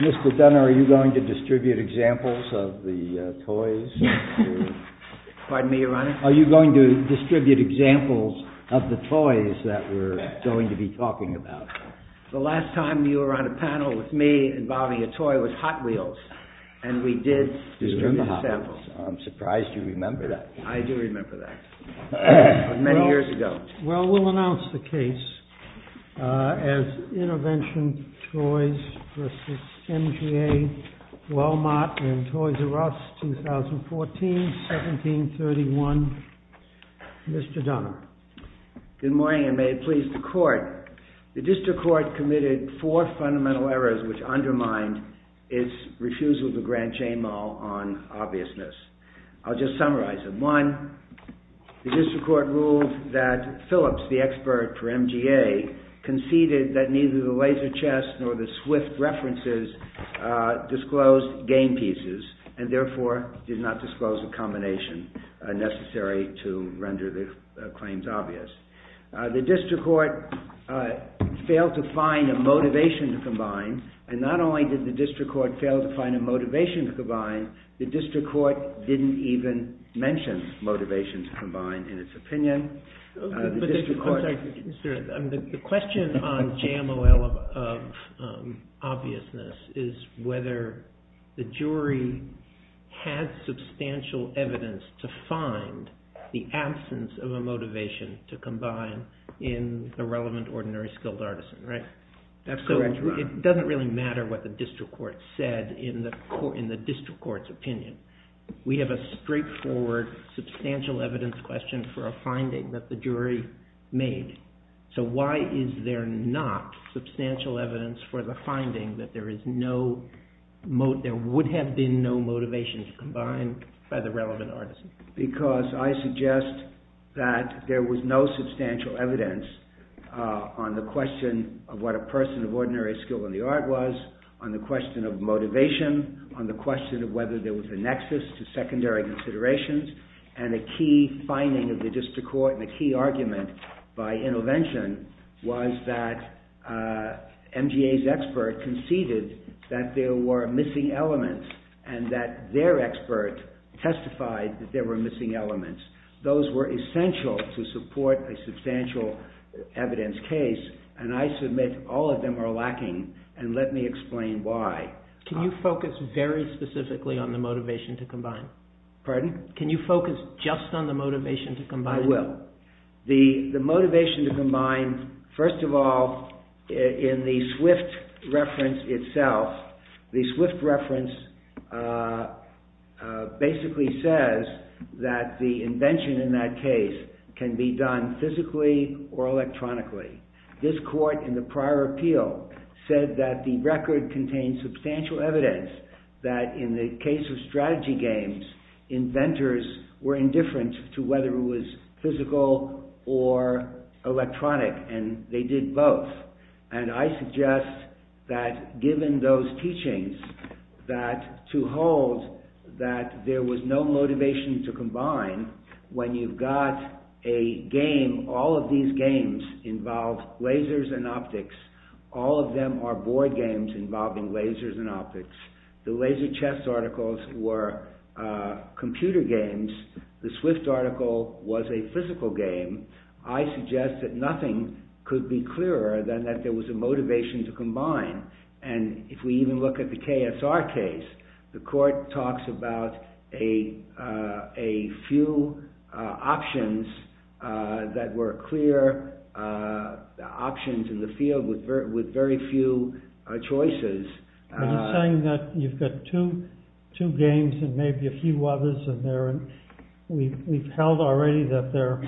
Mr. Dunner, are you going to distribute examples of the toys that we're going to be talking about? The last time you were on a panel with me involving a toy was Hot Wheels, and we did distribute samples. I'm surprised you remember that. I do remember that, many years ago. Well, we'll announce the case as Intervention Toys v. MGA, Wal-Mart and Toys R Us, 2014, 1731. Mr. Dunner. Good morning, and may it please the Court. The District Court committed four fundamental errors which undermined its refusal to grant chain law on obviousness. I'll just summarize them. One, the District Court ruled that Phillips, the expert for MGA, conceded that neither the laser chest nor the swift references disclosed game pieces, and therefore did not disclose a combination necessary to render the claims obvious. The District Court failed to find a motivation to combine, and not only did the District Court fail to find a motivation to combine, the District Court didn't even mention motivation to combine in its opinion. The question on JMOL of obviousness is whether the jury had substantial evidence to find the absence of a motivation to combine in the relevant ordinary skilled artisan, right? It doesn't really matter what the District Court said in the District Court's opinion. We have a straightforward, substantial evidence question for a finding that the jury made. So why is there not substantial evidence for the finding that there would have been no motivation to combine by the relevant artisan? Because I suggest that there was no substantial evidence on the question of what a person of ordinary skill in the art was, on the question of motivation, on the question of whether there was a nexus to secondary considerations, and a key finding of the District Court and a key argument by intervention was that MGA's expert conceded that there were missing elements, and that their expert testified that there were missing elements. Those were essential to support a substantial evidence case, and I submit all of them are lacking, and let me explain why. Can you focus very specifically on the motivation to combine? Pardon? Can you focus just on the motivation to combine? I will. The motivation to combine, first of all, in the Swift reference itself, the Swift reference basically says that the invention in that case can be done physically or electronically. This court in the prior appeal said that the record contains substantial evidence that in the case of strategy games, inventors were indifferent to whether it was physical or electronic, and they did both. And I suggest that given those teachings, that to hold that there was no motivation to combine, when you've got a game, all of these games involve lasers and optics, all of them are board games involving lasers and optics. The laser chess articles were computer games. The Swift article was a physical game. I suggest that nothing could be clearer than that there was a motivation to combine. And if we even look at the KSR case, the court talks about a few options that were clear options in the field with very few choices. Are you saying that you've got two games and maybe a few others, and we've held already that they're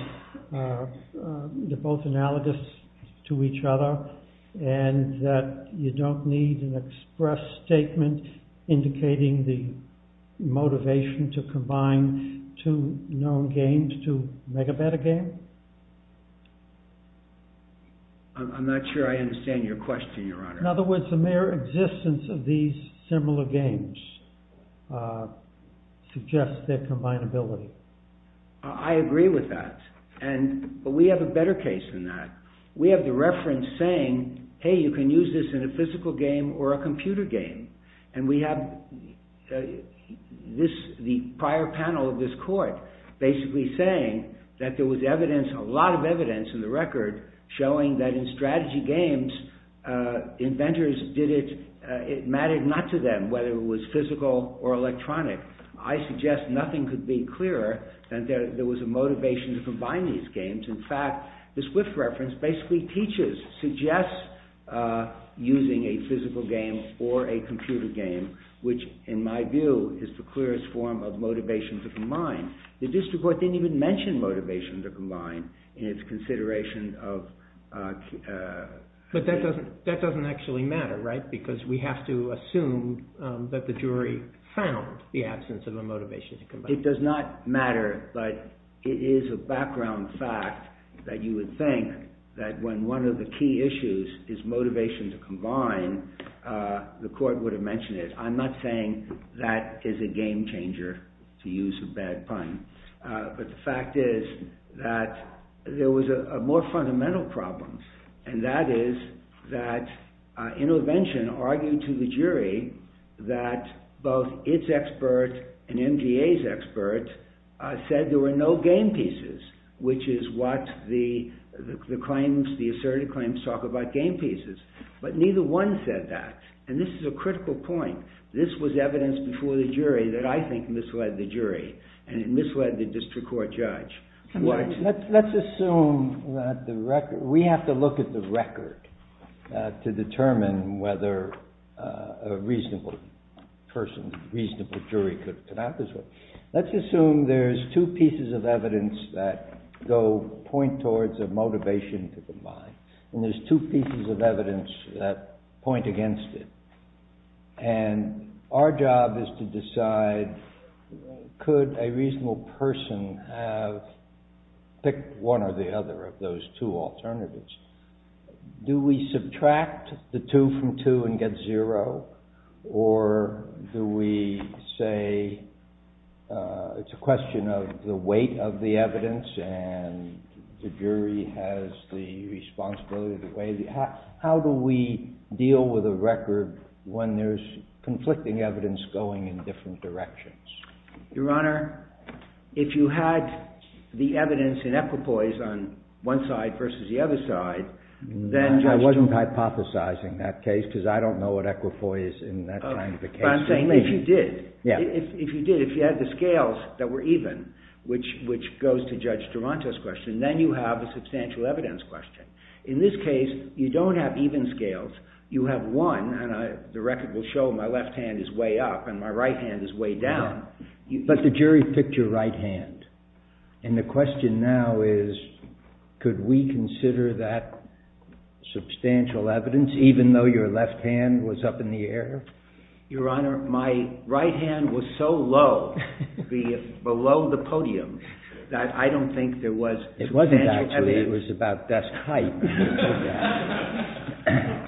both analogous to each other, and that you don't need an express statement indicating the motivation to combine two known games to make a better game? I'm not sure I understand your question, Your Honor. In other words, the mere existence of these similar games suggests their combinability. I agree with that, but we have a better case than that. We have the reference saying, hey, you can use this in a physical game or a computer game, and we have the prior panel of this court basically saying that there was a lot of evidence in the record showing that in strategy games, it mattered not to them whether it was physical or electronic. I suggest nothing could be clearer than that there was a motivation to combine these games. In fact, the Swift reference basically teaches, suggests using a physical game or a computer game, which, in my view, is the clearest form of motivation to combine. The district court didn't even mention motivation to combine in its consideration of… But that doesn't actually matter, right? Because we have to assume that the jury found the absence of a motivation to combine. It does not matter, but it is a background fact that you would think that when one of the key issues is motivation to combine, the court would have mentioned it. I'm not saying that is a game changer, to use a bad pun, but the fact is that there was a more fundamental problem, and that is that Intervention argued to the jury that both its expert and MGA's expert said there were no game pieces, which is what the asserted claims talk about, game pieces. But neither one said that, and this is a critical point. This was evidence before the jury that I think misled the jury, and it misled the district court judge. Let's assume that the record… We have to look at the record to determine whether a reasonable person, a reasonable jury could come out this way. Let's assume there's two pieces of evidence that point towards a motivation to combine, and there's two pieces of evidence that point against it, and our job is to decide could a reasonable person pick one or the other of those two alternatives. Do we subtract the two from two and get zero, or do we say it's a question of the weight of the evidence and the jury has the responsibility to weigh the… How do we deal with a record when there's conflicting evidence going in different directions? Your Honor, if you had the evidence in equipoise on one side versus the other side, then… I wasn't hypothesizing that case because I don't know what equipoise in that kind of a case would mean. But I'm saying if you did, if you did, if you had the scales that were even, which goes to Judge Durante's question, then you have a substantial evidence question. In this case, you don't have even scales. You have one, and the record will show my left hand is way up and my right hand is way down. But the jury picked your right hand, and the question now is could we consider that substantial evidence, even though your left hand was up in the air? Your Honor, my right hand was so low, below the podium, that I don't think there was substantial evidence. It wasn't actually. It was about desk height.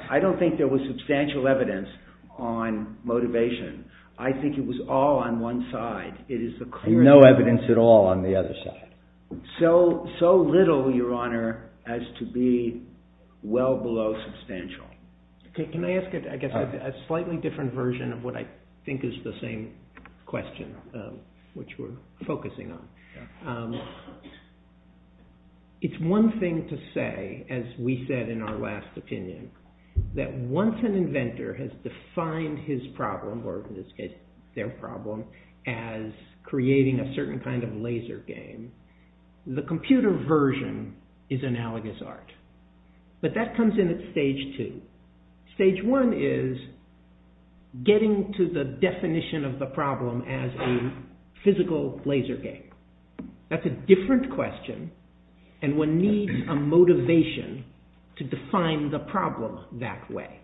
I don't think there was substantial evidence on motivation. I think it was all on one side. No evidence at all on the other side. So little, Your Honor, as to be well below substantial. Can I ask a slightly different version of what I think is the same question, which we're focusing on? It's one thing to say, as we said in our last opinion, that once an inventor has defined his problem, or their problem, as creating a certain kind of laser game, the computer version is analogous art. But that comes in at stage two. Stage one is getting to the definition of the problem as a physical laser game. That's a different question, and one needs a motivation to define the problem that way.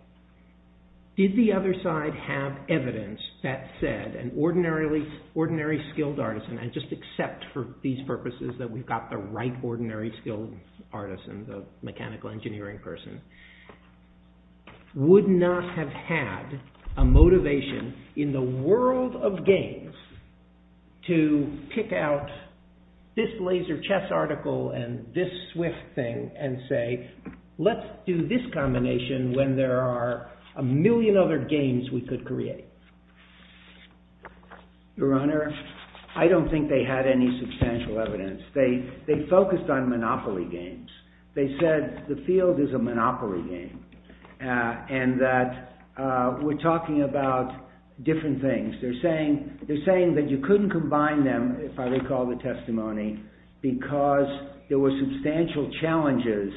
Did the other side have evidence that said an ordinary skilled artisan, and just accept for these purposes that we've got the right ordinary skilled artisan, the mechanical engineering person, would not have had a motivation in the world of games to pick out this laser chess article and this swift thing and say, let's do this combination when there are a million other games we could create? Your Honor, I don't think they had any substantial evidence. They focused on monopoly games. They said the field is a monopoly game, and that we're talking about different things. They're saying that you couldn't combine them, if I recall the testimony, because there were substantial challenges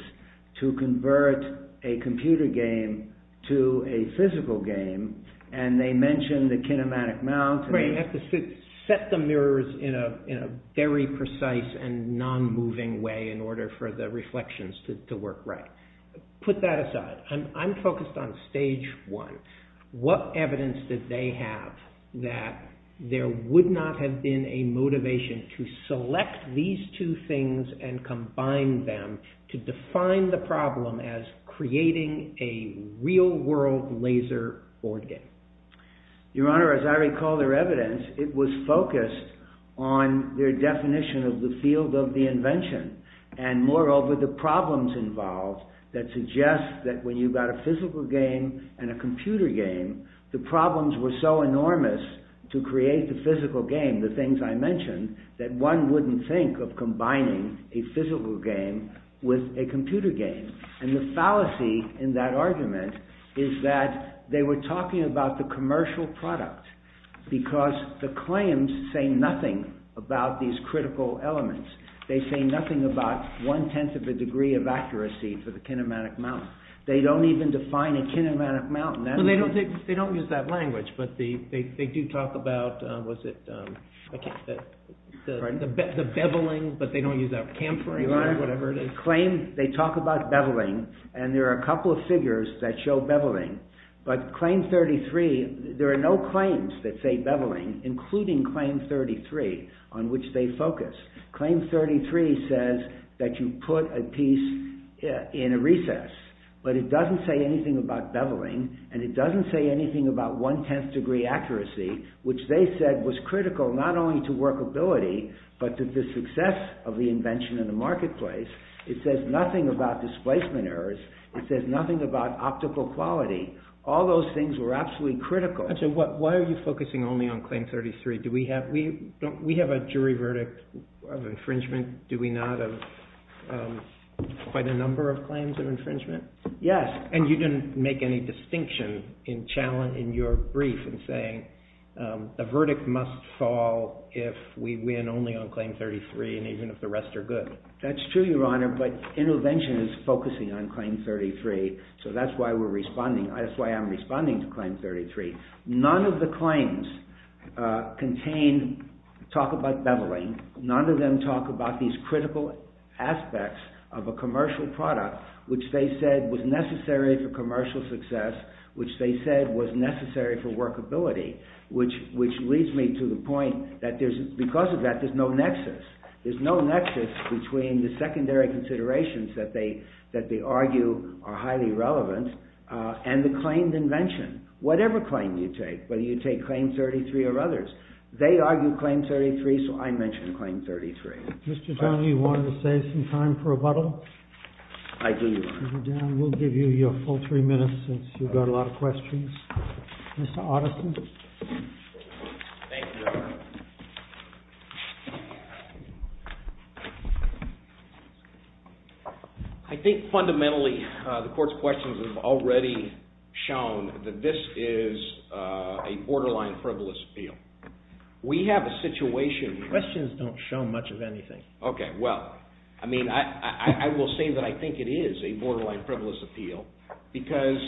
to convert a computer game to a physical game, and they mentioned the kinematic mount. You have to set the mirrors in a very precise and non-moving way in order for the reflections to work right. Put that aside. I'm focused on stage one. What evidence did they have that there would not have been a motivation to select these two things and combine them to define the problem as creating a real-world laser board game? Your Honor, as I recall their evidence, it was focused on their definition of the field of the invention, and moreover the problems involved, that suggest that when you've got a physical game and a computer game, the problems were so enormous to create the physical game, the things I mentioned, that one wouldn't think of combining a physical game with a computer game. The fallacy in that argument is that they were talking about the commercial product, because the claims say nothing about these critical elements. They say nothing about one-tenth of a degree of accuracy for the kinematic mount. They don't even define a kinematic mount. They don't use that language, but they do talk about the beveling, but they don't use that cam frame or whatever it is. Your Honor, they talk about beveling, and there are a couple of figures that show beveling, but claim 33, there are no claims that say beveling, including claim 33, on which they focus. Claim 33 says that you put a piece in a recess, but it doesn't say anything about beveling, and it doesn't say anything about one-tenth degree accuracy, which they said was critical not only to workability, but to the success of the invention in the marketplace. It says nothing about displacement errors. It says nothing about optical quality. All those things were absolutely critical. Why are you focusing only on claim 33? We have a jury verdict of infringement, do we not, of quite a number of claims of infringement? Yes. And you didn't make any distinction in your brief in saying a verdict must fall if we win only on claim 33 and even if the rest are good. That's true, Your Honor, but intervention is focusing on claim 33, so that's why I'm responding to claim 33. None of the claims talk about beveling. None of them talk about these critical aspects of a commercial product, which they said was necessary for commercial success, which they said was necessary for workability, which leads me to the point that, because of that, there's no nexus. There's no nexus between the secondary considerations that they argue are highly relevant and the claimed invention. Whatever claim you take, whether you take claim 33 or others, they argue claim 33, so I mention claim 33. Mr. Donahue, do you want to save some time for rebuttal? I do, Your Honor. We'll give you your full three minutes since you've got a lot of questions. Mr. Otteson. Thank you, Your Honor. I think fundamentally the court's questions have already shown that this is a borderline frivolous appeal. We have a situation. Questions don't show much of anything. Okay, well, I mean, I will say that I think it is a borderline frivolous appeal because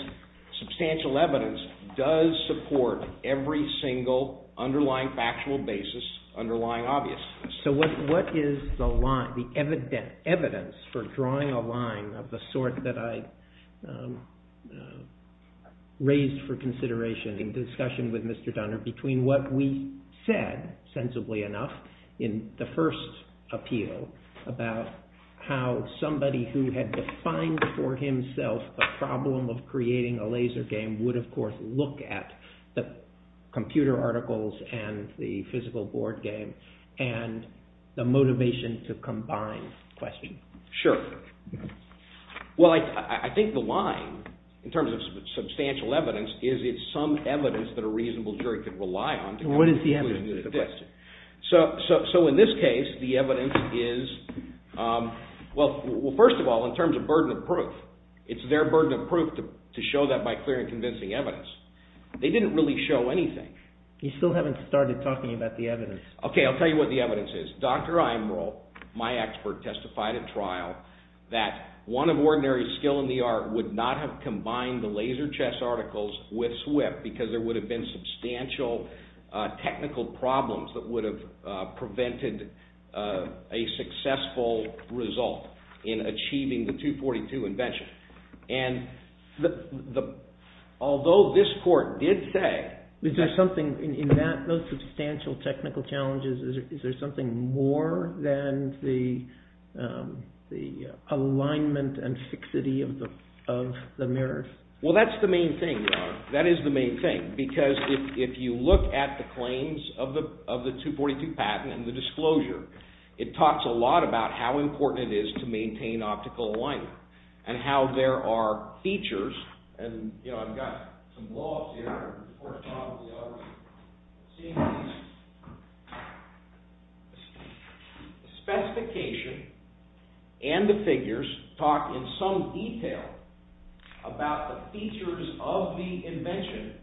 substantial evidence does support every single underlying factual basis, underlying obviousness. So what is the evidence for drawing a line of the sort that I raised for consideration in discussion with Mr. Dunner between what we said, sensibly enough, in the first appeal about how somebody who had defined for himself a problem of creating a laser game would, of course, look at the computer articles and the physical board game and the motivation to combine question? Sure. Well, I think the line in terms of substantial evidence is it's some evidence that a reasonable jury could rely on. What is the evidence? So in this case, the evidence is, well, first of all, in terms of burden of proof, it's their burden of proof to show that by clear and convincing evidence. They didn't really show anything. You still haven't started talking about the evidence. Okay, I'll tell you what the evidence is. Dr. Imrel, my expert, testified at trial that one of ordinary skill in the art would not have combined the laser chess articles with SWIFT because there would have been substantial technical problems that would have prevented a successful result in achieving the 242 invention. And although this court did say that there's something in that, in terms of substantial technical challenges, is there something more than the alignment and fixity of the mirror? Well, that's the main thing. That is the main thing because if you look at the claims of the 242 patent and the disclosure, it talks a lot about how important it is to maintain optical alignment and how there are features. And, you know, I've got some blow-ups here. The specification and the figures talk in some detail about the features of the invention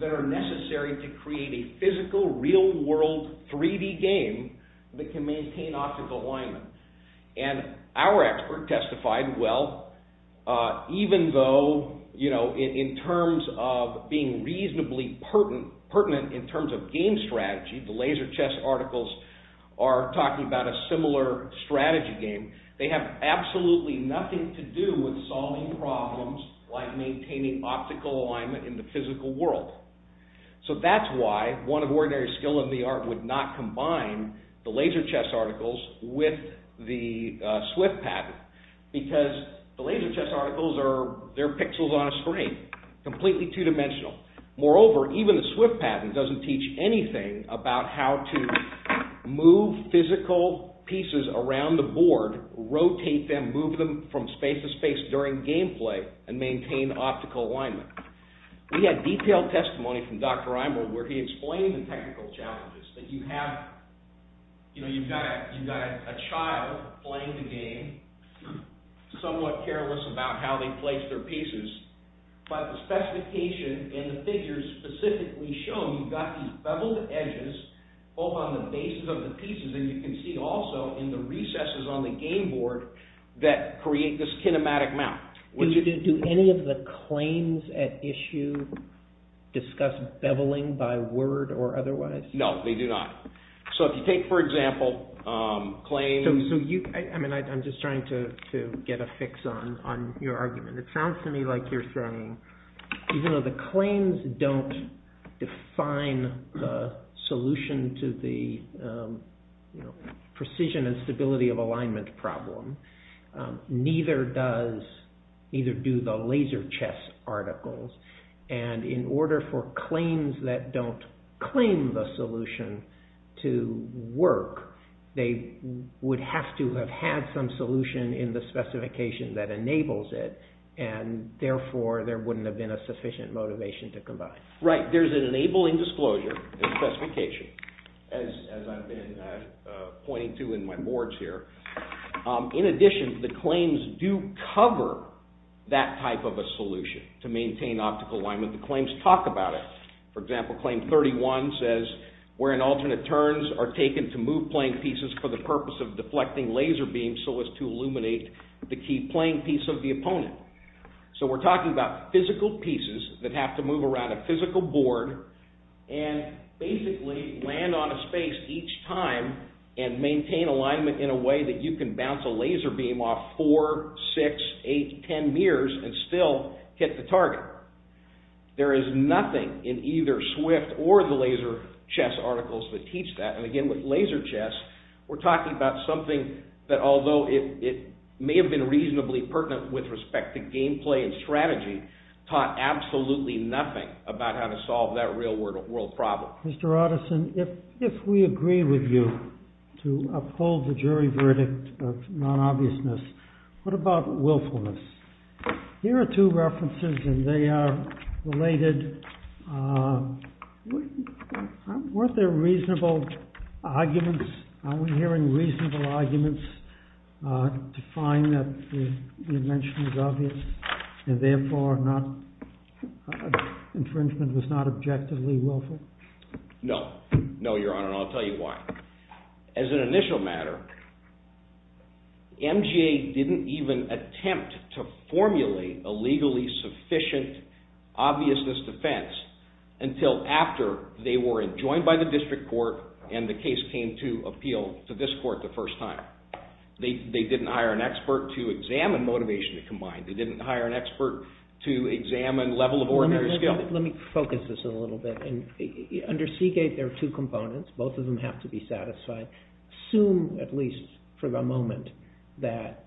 that are necessary to create a physical, real-world 3D game that can maintain optical alignment. And our expert testified, well, even though, you know, in terms of being reasonably pertinent in terms of game strategy, the laser chess articles are talking about a similar strategy game, they have absolutely nothing to do with solving problems like maintaining optical alignment in the physical world. So that's why one of ordinary skill in the art would not combine the laser chess articles with the SWIFT patent because the laser chess articles are, they're pixels on a screen, completely two-dimensional. Moreover, even the SWIFT patent doesn't teach anything about how to move physical pieces around the board, rotate them, move them from space to space during gameplay and maintain optical alignment. We had detailed testimony from Dr. Imel where he explained the technical challenges that you have, you know, you've got a child playing the game, somewhat careless about how they place their pieces, but the specification and the figures specifically show you've got these beveled edges both on the bases of the pieces and you can see also in the recesses on the game board that create this kinematic map. Do any of the claims at issue discuss beveling by word or otherwise? No, they do not. So if you take, for example, claims... I'm just trying to get a fix on your argument. It sounds to me like you're saying even though the claims don't define the solution to the precision and stability of alignment problem, neither do the laser chess articles, and in order for claims that don't claim the solution to work, they would have to have had some solution in the specification that enables it and therefore there wouldn't have been a sufficient motivation to combine. Right. There's an enabling disclosure in the specification, as I've been pointing to in my boards here. In addition, the claims do cover that type of a solution to maintain optical alignment. The claims talk about it. For example, claim 31 says, where in alternate turns are taken to move playing pieces for the purpose of deflecting laser beams so as to illuminate the key playing piece of the opponent. So we're talking about physical pieces that have to move around a physical board and basically land on a space each time and maintain alignment in a way that you can bounce a laser beam off four, six, eight, ten mirrors and still hit the target. There is nothing in either Swift or the laser chess articles that teach that, and again with laser chess, we're talking about something that although it may have been reasonably pertinent with respect to gameplay and strategy, taught absolutely nothing about how to solve that real world problem. Mr. Otteson, if we agree with you to uphold the jury verdict of non-obviousness, what about willfulness? Here are two references and they are related. Weren't there reasonable arguments? Are we hearing reasonable arguments to find that the invention was obvious and therefore infringement was not objectively willful? No, your honor, and I'll tell you why. As an initial matter, MGA didn't even attempt to formulate a legally sufficient obviousness defense until after they were joined by the district court and the case came to appeal to this court the first time. They didn't hire an expert to examine motivation combined. They didn't hire an expert to examine level of ordinary skill. Let me focus this a little bit. Under Seagate, there are two components. Both of them have to be satisfied. Assume, at least for the moment, that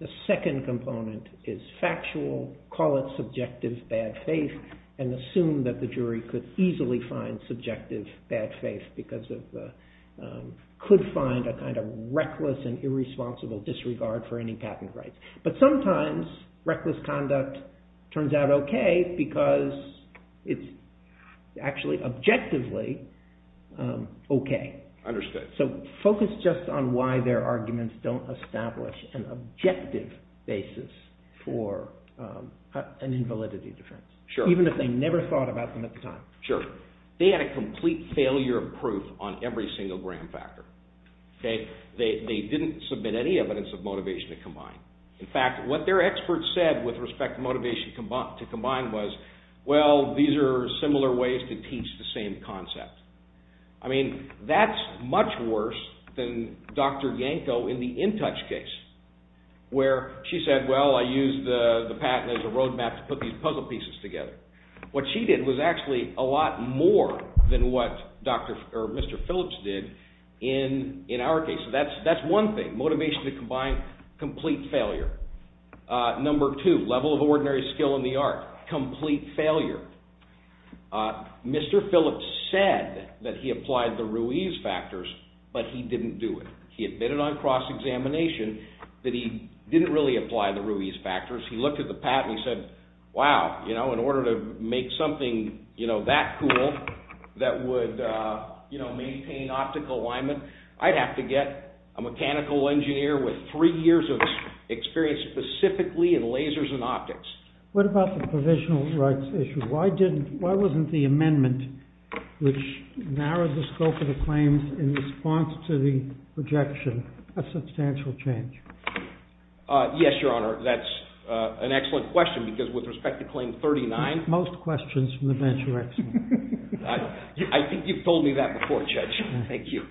the second component is factual, call it subjective bad faith, and assume that the jury could easily find subjective bad faith because it could find a kind of reckless and irresponsible disregard for any patent rights. But sometimes reckless conduct turns out okay because it's actually objectively okay. So focus just on why their arguments don't establish an objective basis for an invalidity defense, even if they never thought about them at the time. Sure. They had a complete failure of proof on every single gram factor. They didn't submit any evidence of motivation to combine. In fact, what their experts said with respect to motivation to combine was, well, these are similar ways to teach the same concept. I mean, that's much worse than Dr. Yanko in the InTouch case where she said, well, I used the patent as a roadmap to put these puzzle pieces together. What she did was actually a lot more than what Mr. Phillips did in our case. So that's one thing. Motivation to combine, complete failure. Number two, level of ordinary skill in the art, complete failure. Mr. Phillips said that he applied the Ruiz factors, but he didn't do it. He admitted on cross-examination that he didn't really apply the Ruiz factors. He looked at the patent and he said, wow, in order to make something that cool that would maintain optical alignment, I'd have to get a mechanical engineer with three years of experience specifically in lasers and optics. What about the provisional rights issue? Why wasn't the amendment, which narrowed the scope of the claims in response to the rejection, a substantial change? Yes, Your Honor, that's an excellent question because with respect to Claim 39... Most questions from the bench are excellent. I think you've told me that before, Judge. Thank you.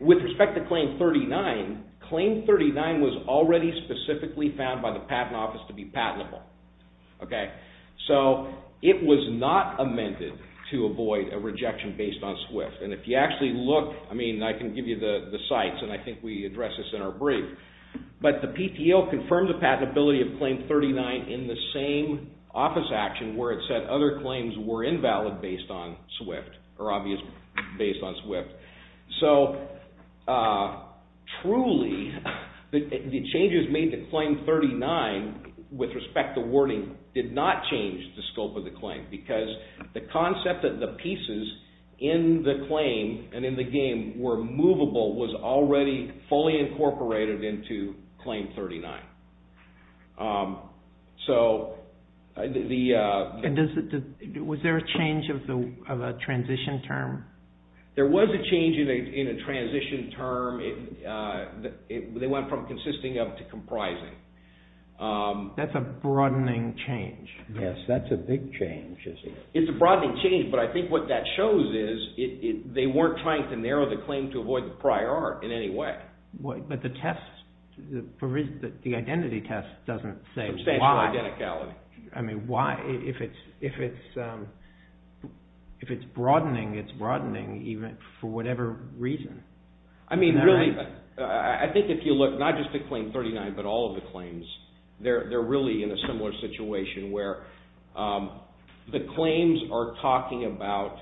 With respect to Claim 39, Claim 39 was already specifically found by the Patent Office to be patentable. So it was not amended to avoid a rejection based on SWIFT. And if you actually look, I can give you the sites and I think we addressed this in our brief, but the PTO confirmed the patentability of Claim 39 in the same office action where it said other claims were invalid based on SWIFT, or obviously based on SWIFT. So truly, the changes made to Claim 39 with respect to warning did not change the scope of the claim because the concept that the pieces in the claim and in the game were movable was already fully incorporated into Claim 39. So the... Was there a change of a transition term? There was a change in a transition term. They went from consisting up to comprising. That's a broadening change. Yes, that's a big change. It's a broadening change, but I think what that shows is they weren't trying to narrow the claim to avoid the prior art in any way. But the test, the identity test doesn't say why. Substantial identicality. I mean, why? If it's broadening, it's broadening for whatever reason. I mean, really, I think if you look, not just at Claim 39, but all of the claims, they're really in a similar situation where the claims are talking about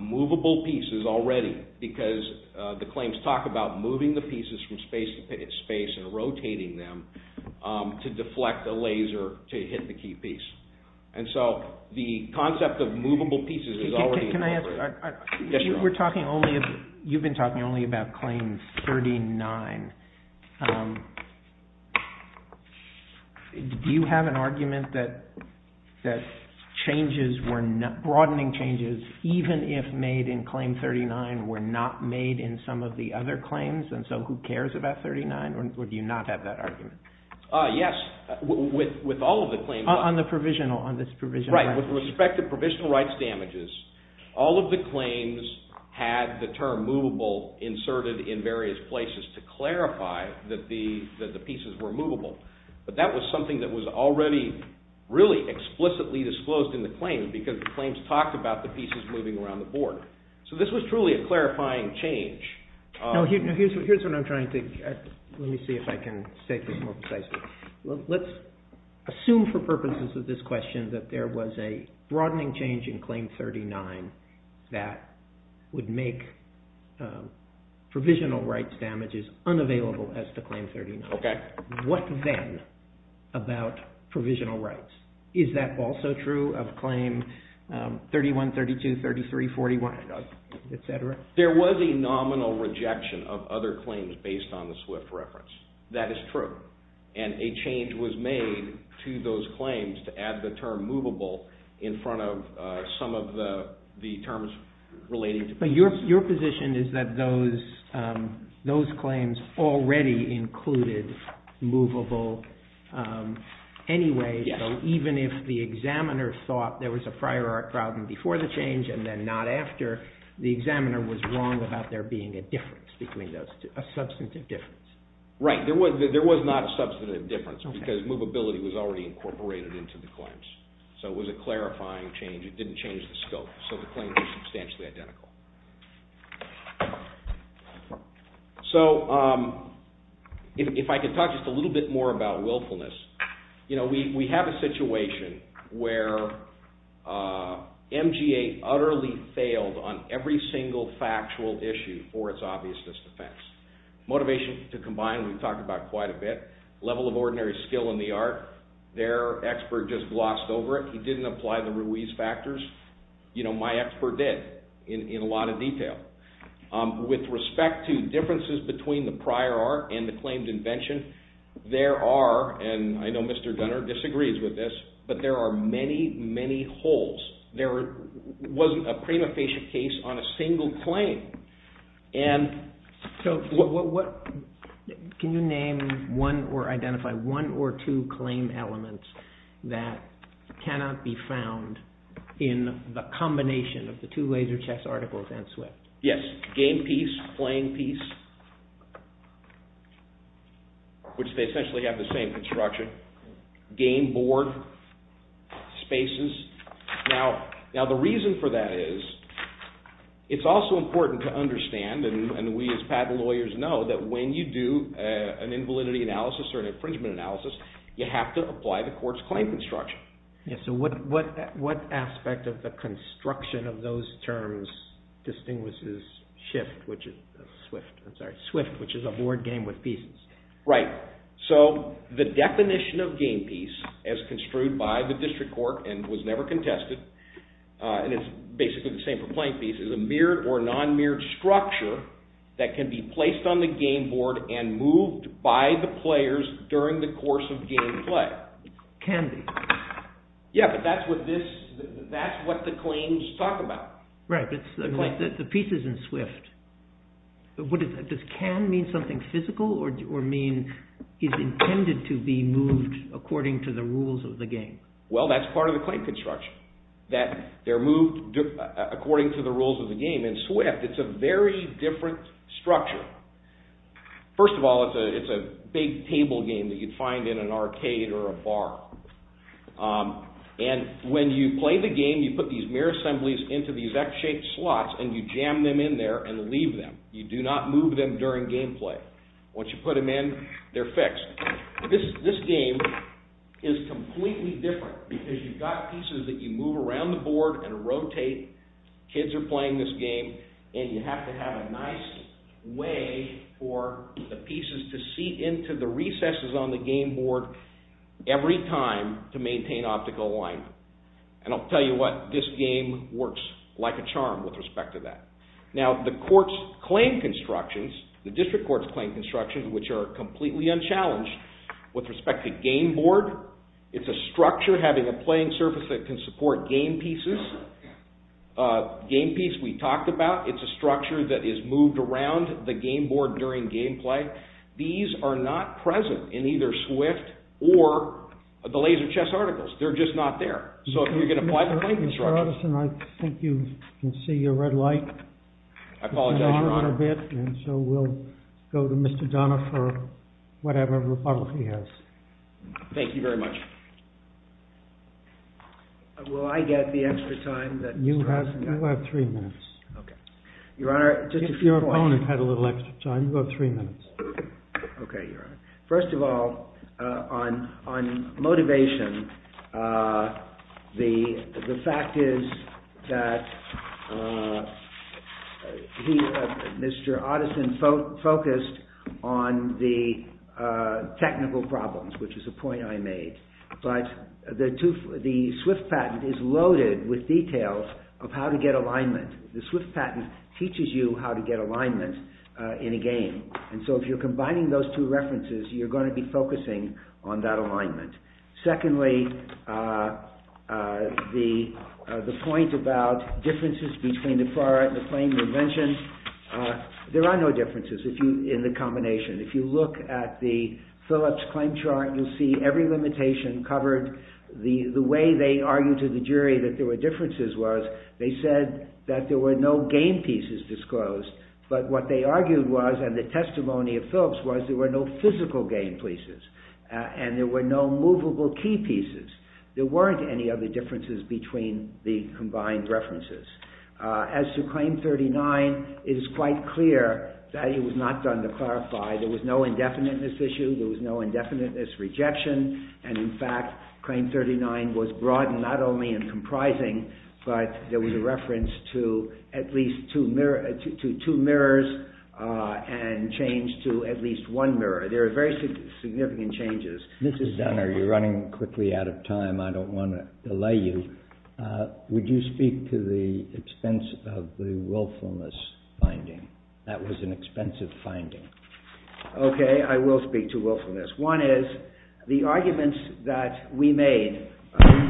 movable pieces already because the claims talk about moving the pieces from space to space and rotating them to deflect a laser to hit the key piece. And so the concept of movable pieces is already incorporated. We're talking only, you've been talking only about Claim 39. Do you have an argument that broadening changes, even if made in Claim 39, were not made in some of the other claims? And so who cares about 39? Or do you not have that argument? Yes. With all of the claims. On the provisional, on this provisional rights. Right. With respect to provisional rights damages, all of the claims had the term movable inserted in various places to clarify that the pieces were movable. But that was something that was already really explicitly disclosed in the claims because the claims talked about the pieces moving around the board. So this was truly a clarifying change. Now here's what I'm trying to, let me see if I can state this more precisely. Let's assume for purposes of this question that there was a broadening change in Claim 39 that would make provisional rights damages as unavailable as to Claim 39. Okay. What then about provisional rights? Is that also true of Claim 31, 32, 33, 41, et cetera? There was a nominal rejection of other claims based on the SWIFT reference. That is true. And a change was made to those claims to add the term movable in front of some of the terms relating to... But your position is that those claims already included movable anyway, so even if the examiner thought there was a prior art problem before the change and then not after, the examiner was wrong about there being a difference between those two, a substantive difference. Right. There was not a substantive difference because movability was already incorporated into the claims. So it was a clarifying change. It didn't change the scope. So the claims were substantially identical. So if I could talk just a little bit more about willfulness. We have a situation where MGA utterly failed on every single factual issue for its obviousness defense. Motivation to combine, we've talked about quite a bit. Level of ordinary skill in the art, their expert just glossed over it. He didn't apply the Ruiz factors. My expert did in a lot of detail. With respect to differences between the prior art and the claims invention, there are, and I know Mr. Gunner disagrees with this, but there are many, many holes. There wasn't a prima facie case on a single claim. Can you name one or identify one or two claim elements that cannot be found in the combination of the two laser chest articles and SWIFT? Yes. Game piece, playing piece, which they essentially have the same construction. Game board spaces. Now the reason for that is it's also important to understand, and we as patent lawyers know, that when you do an invalidity analysis or an infringement analysis, you have to apply the court's claim construction. So what aspect of the construction of those terms distinguishes SWIFT, which is a board game with pieces? Right. So the definition of game piece, as construed by the district court and was never contested, and it's basically the same for playing piece, is a mirrored or non-mirrored structure that can be placed on the game board and moved by the players during the course of game play. Can be. Yeah, but that's what the claims talk about. Right, but the pieces in SWIFT, does can mean something physical or mean it's intended to be moved according to the rules of the game? Well, that's part of the claim construction, that they're moved according to the rules of the game. In SWIFT, it's a very different structure. First of all, it's a big table game that you'd find in an arcade or a bar. And when you play the game, you put these mirror assemblies into these X-shaped slots and you jam them in there and leave them. You do not move them during game play. Once you put them in, they're fixed. This game is completely different because you've got pieces that you move around the board and rotate, kids are playing this game, and you have to have a nice way for the pieces to seat into the recesses on the game board every time to maintain optical alignment. And I'll tell you what, this game works like a charm with respect to that. Now, the court's claim constructions, the district court's claim constructions, which are completely unchallenged, with respect to game board, it's a structure having a playing surface that can support game pieces. This game piece we talked about, it's a structure that is moved around the game board during game play. These are not present in either Swift or the Laser Chess Articles. They're just not there. So if you're going to apply the claim construction... I think you can see your red light. I apologize, Your Honor. And so we'll go to Mr. Donner for whatever rebuttal he has. Thank you very much. Will I get the extra time that... You have three minutes. Okay. Your Honor, just a few points. Your opponent had a little extra time. You have three minutes. Okay, Your Honor. First of all, on motivation, the fact is that Mr. Otteson focused on the technical problems, which is a point I made. But the Swift patent is loaded with details of how to get alignment. The Swift patent teaches you how to get alignment in a game. And so if you're combining those two references, you're going to be focusing on that alignment. Secondly, the point about differences between the prior and the claim dimensions, there are no differences in the combination. If you look at the Phillips claim chart, you'll see every limitation covered. The way they argued to the jury that there were differences was they said that there were no game pieces disclosed. But what they argued was, and the testimony of Phillips was, there were no physical game pieces. And there were no movable key pieces. There weren't any other differences between the combined references. As to Claim 39, it is quite clear that it was not done to clarify. There was no indefiniteness issue. There was no indefiniteness rejection. And in fact, Claim 39 was broad not only in comprising, but there was a reference to at least two mirrors and change to at least one mirror. There are very significant changes. This is Donner. You're running quickly out of time. I don't want to delay you. Would you speak to the expense of the willfulness finding? That was an expensive finding. Okay, I will speak to willfulness. One is, the arguments that we made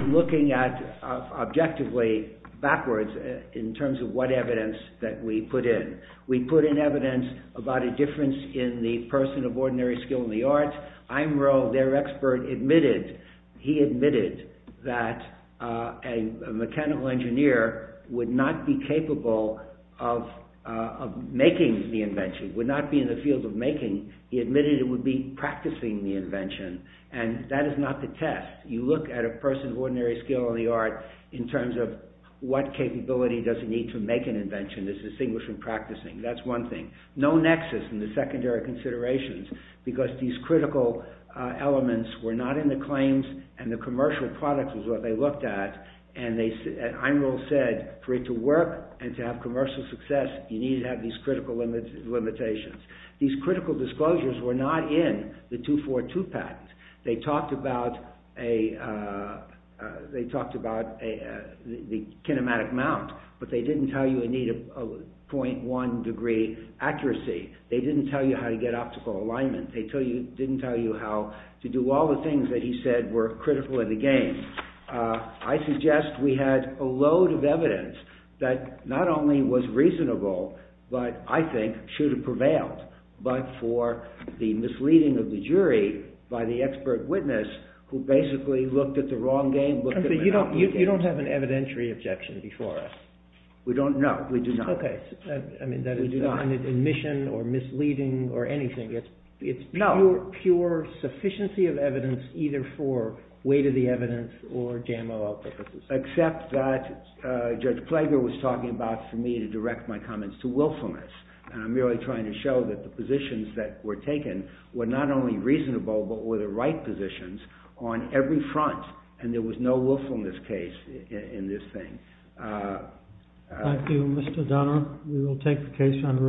looking at objectively, backwards, in terms of what evidence that we put in. We put in evidence about a difference in the person of ordinary skill in the arts. Imro, their expert, admitted, he admitted that a mechanical engineer would not be capable of making the invention, would not be in the field of making. He admitted it would be practicing the invention. And that is not the test. You look at a person of ordinary skill in the art in terms of what capability does he need to make an invention that's distinguished from practicing. That's one thing. No nexus in the secondary considerations because these critical elements were not in the claims and the commercial product was what they looked at. And Imro said, for it to work and to have commercial success, you need to have these critical limitations. These critical disclosures were not in the 242 patent. They talked about a, they talked about the kinematic mount, but they didn't tell you you need a 0.1 degree accuracy. They didn't tell you how to get optical alignment. They didn't tell you how to do all the things that he said were critical in the game. I suggest we had a load of evidence that not only was reasonable, but I think should have prevailed, but for the misleading of the jury by the expert witness who basically looked at the wrong game. You don't have an evidentiary objection before us? No, we do not. Okay. I mean, that is not an admission or misleading or anything. It's pure sufficiency of evidence either for weight of the evidence or JMOL purposes. Except that Judge Klager was talking about for me to direct my comments to willfulness. And I'm really trying to show that the positions that were taken were not only reasonable, but were the right positions on every front. And there was no willfulness case in this thing. Thank you, Mr. Donner. We will take the case under advisement. Thank you.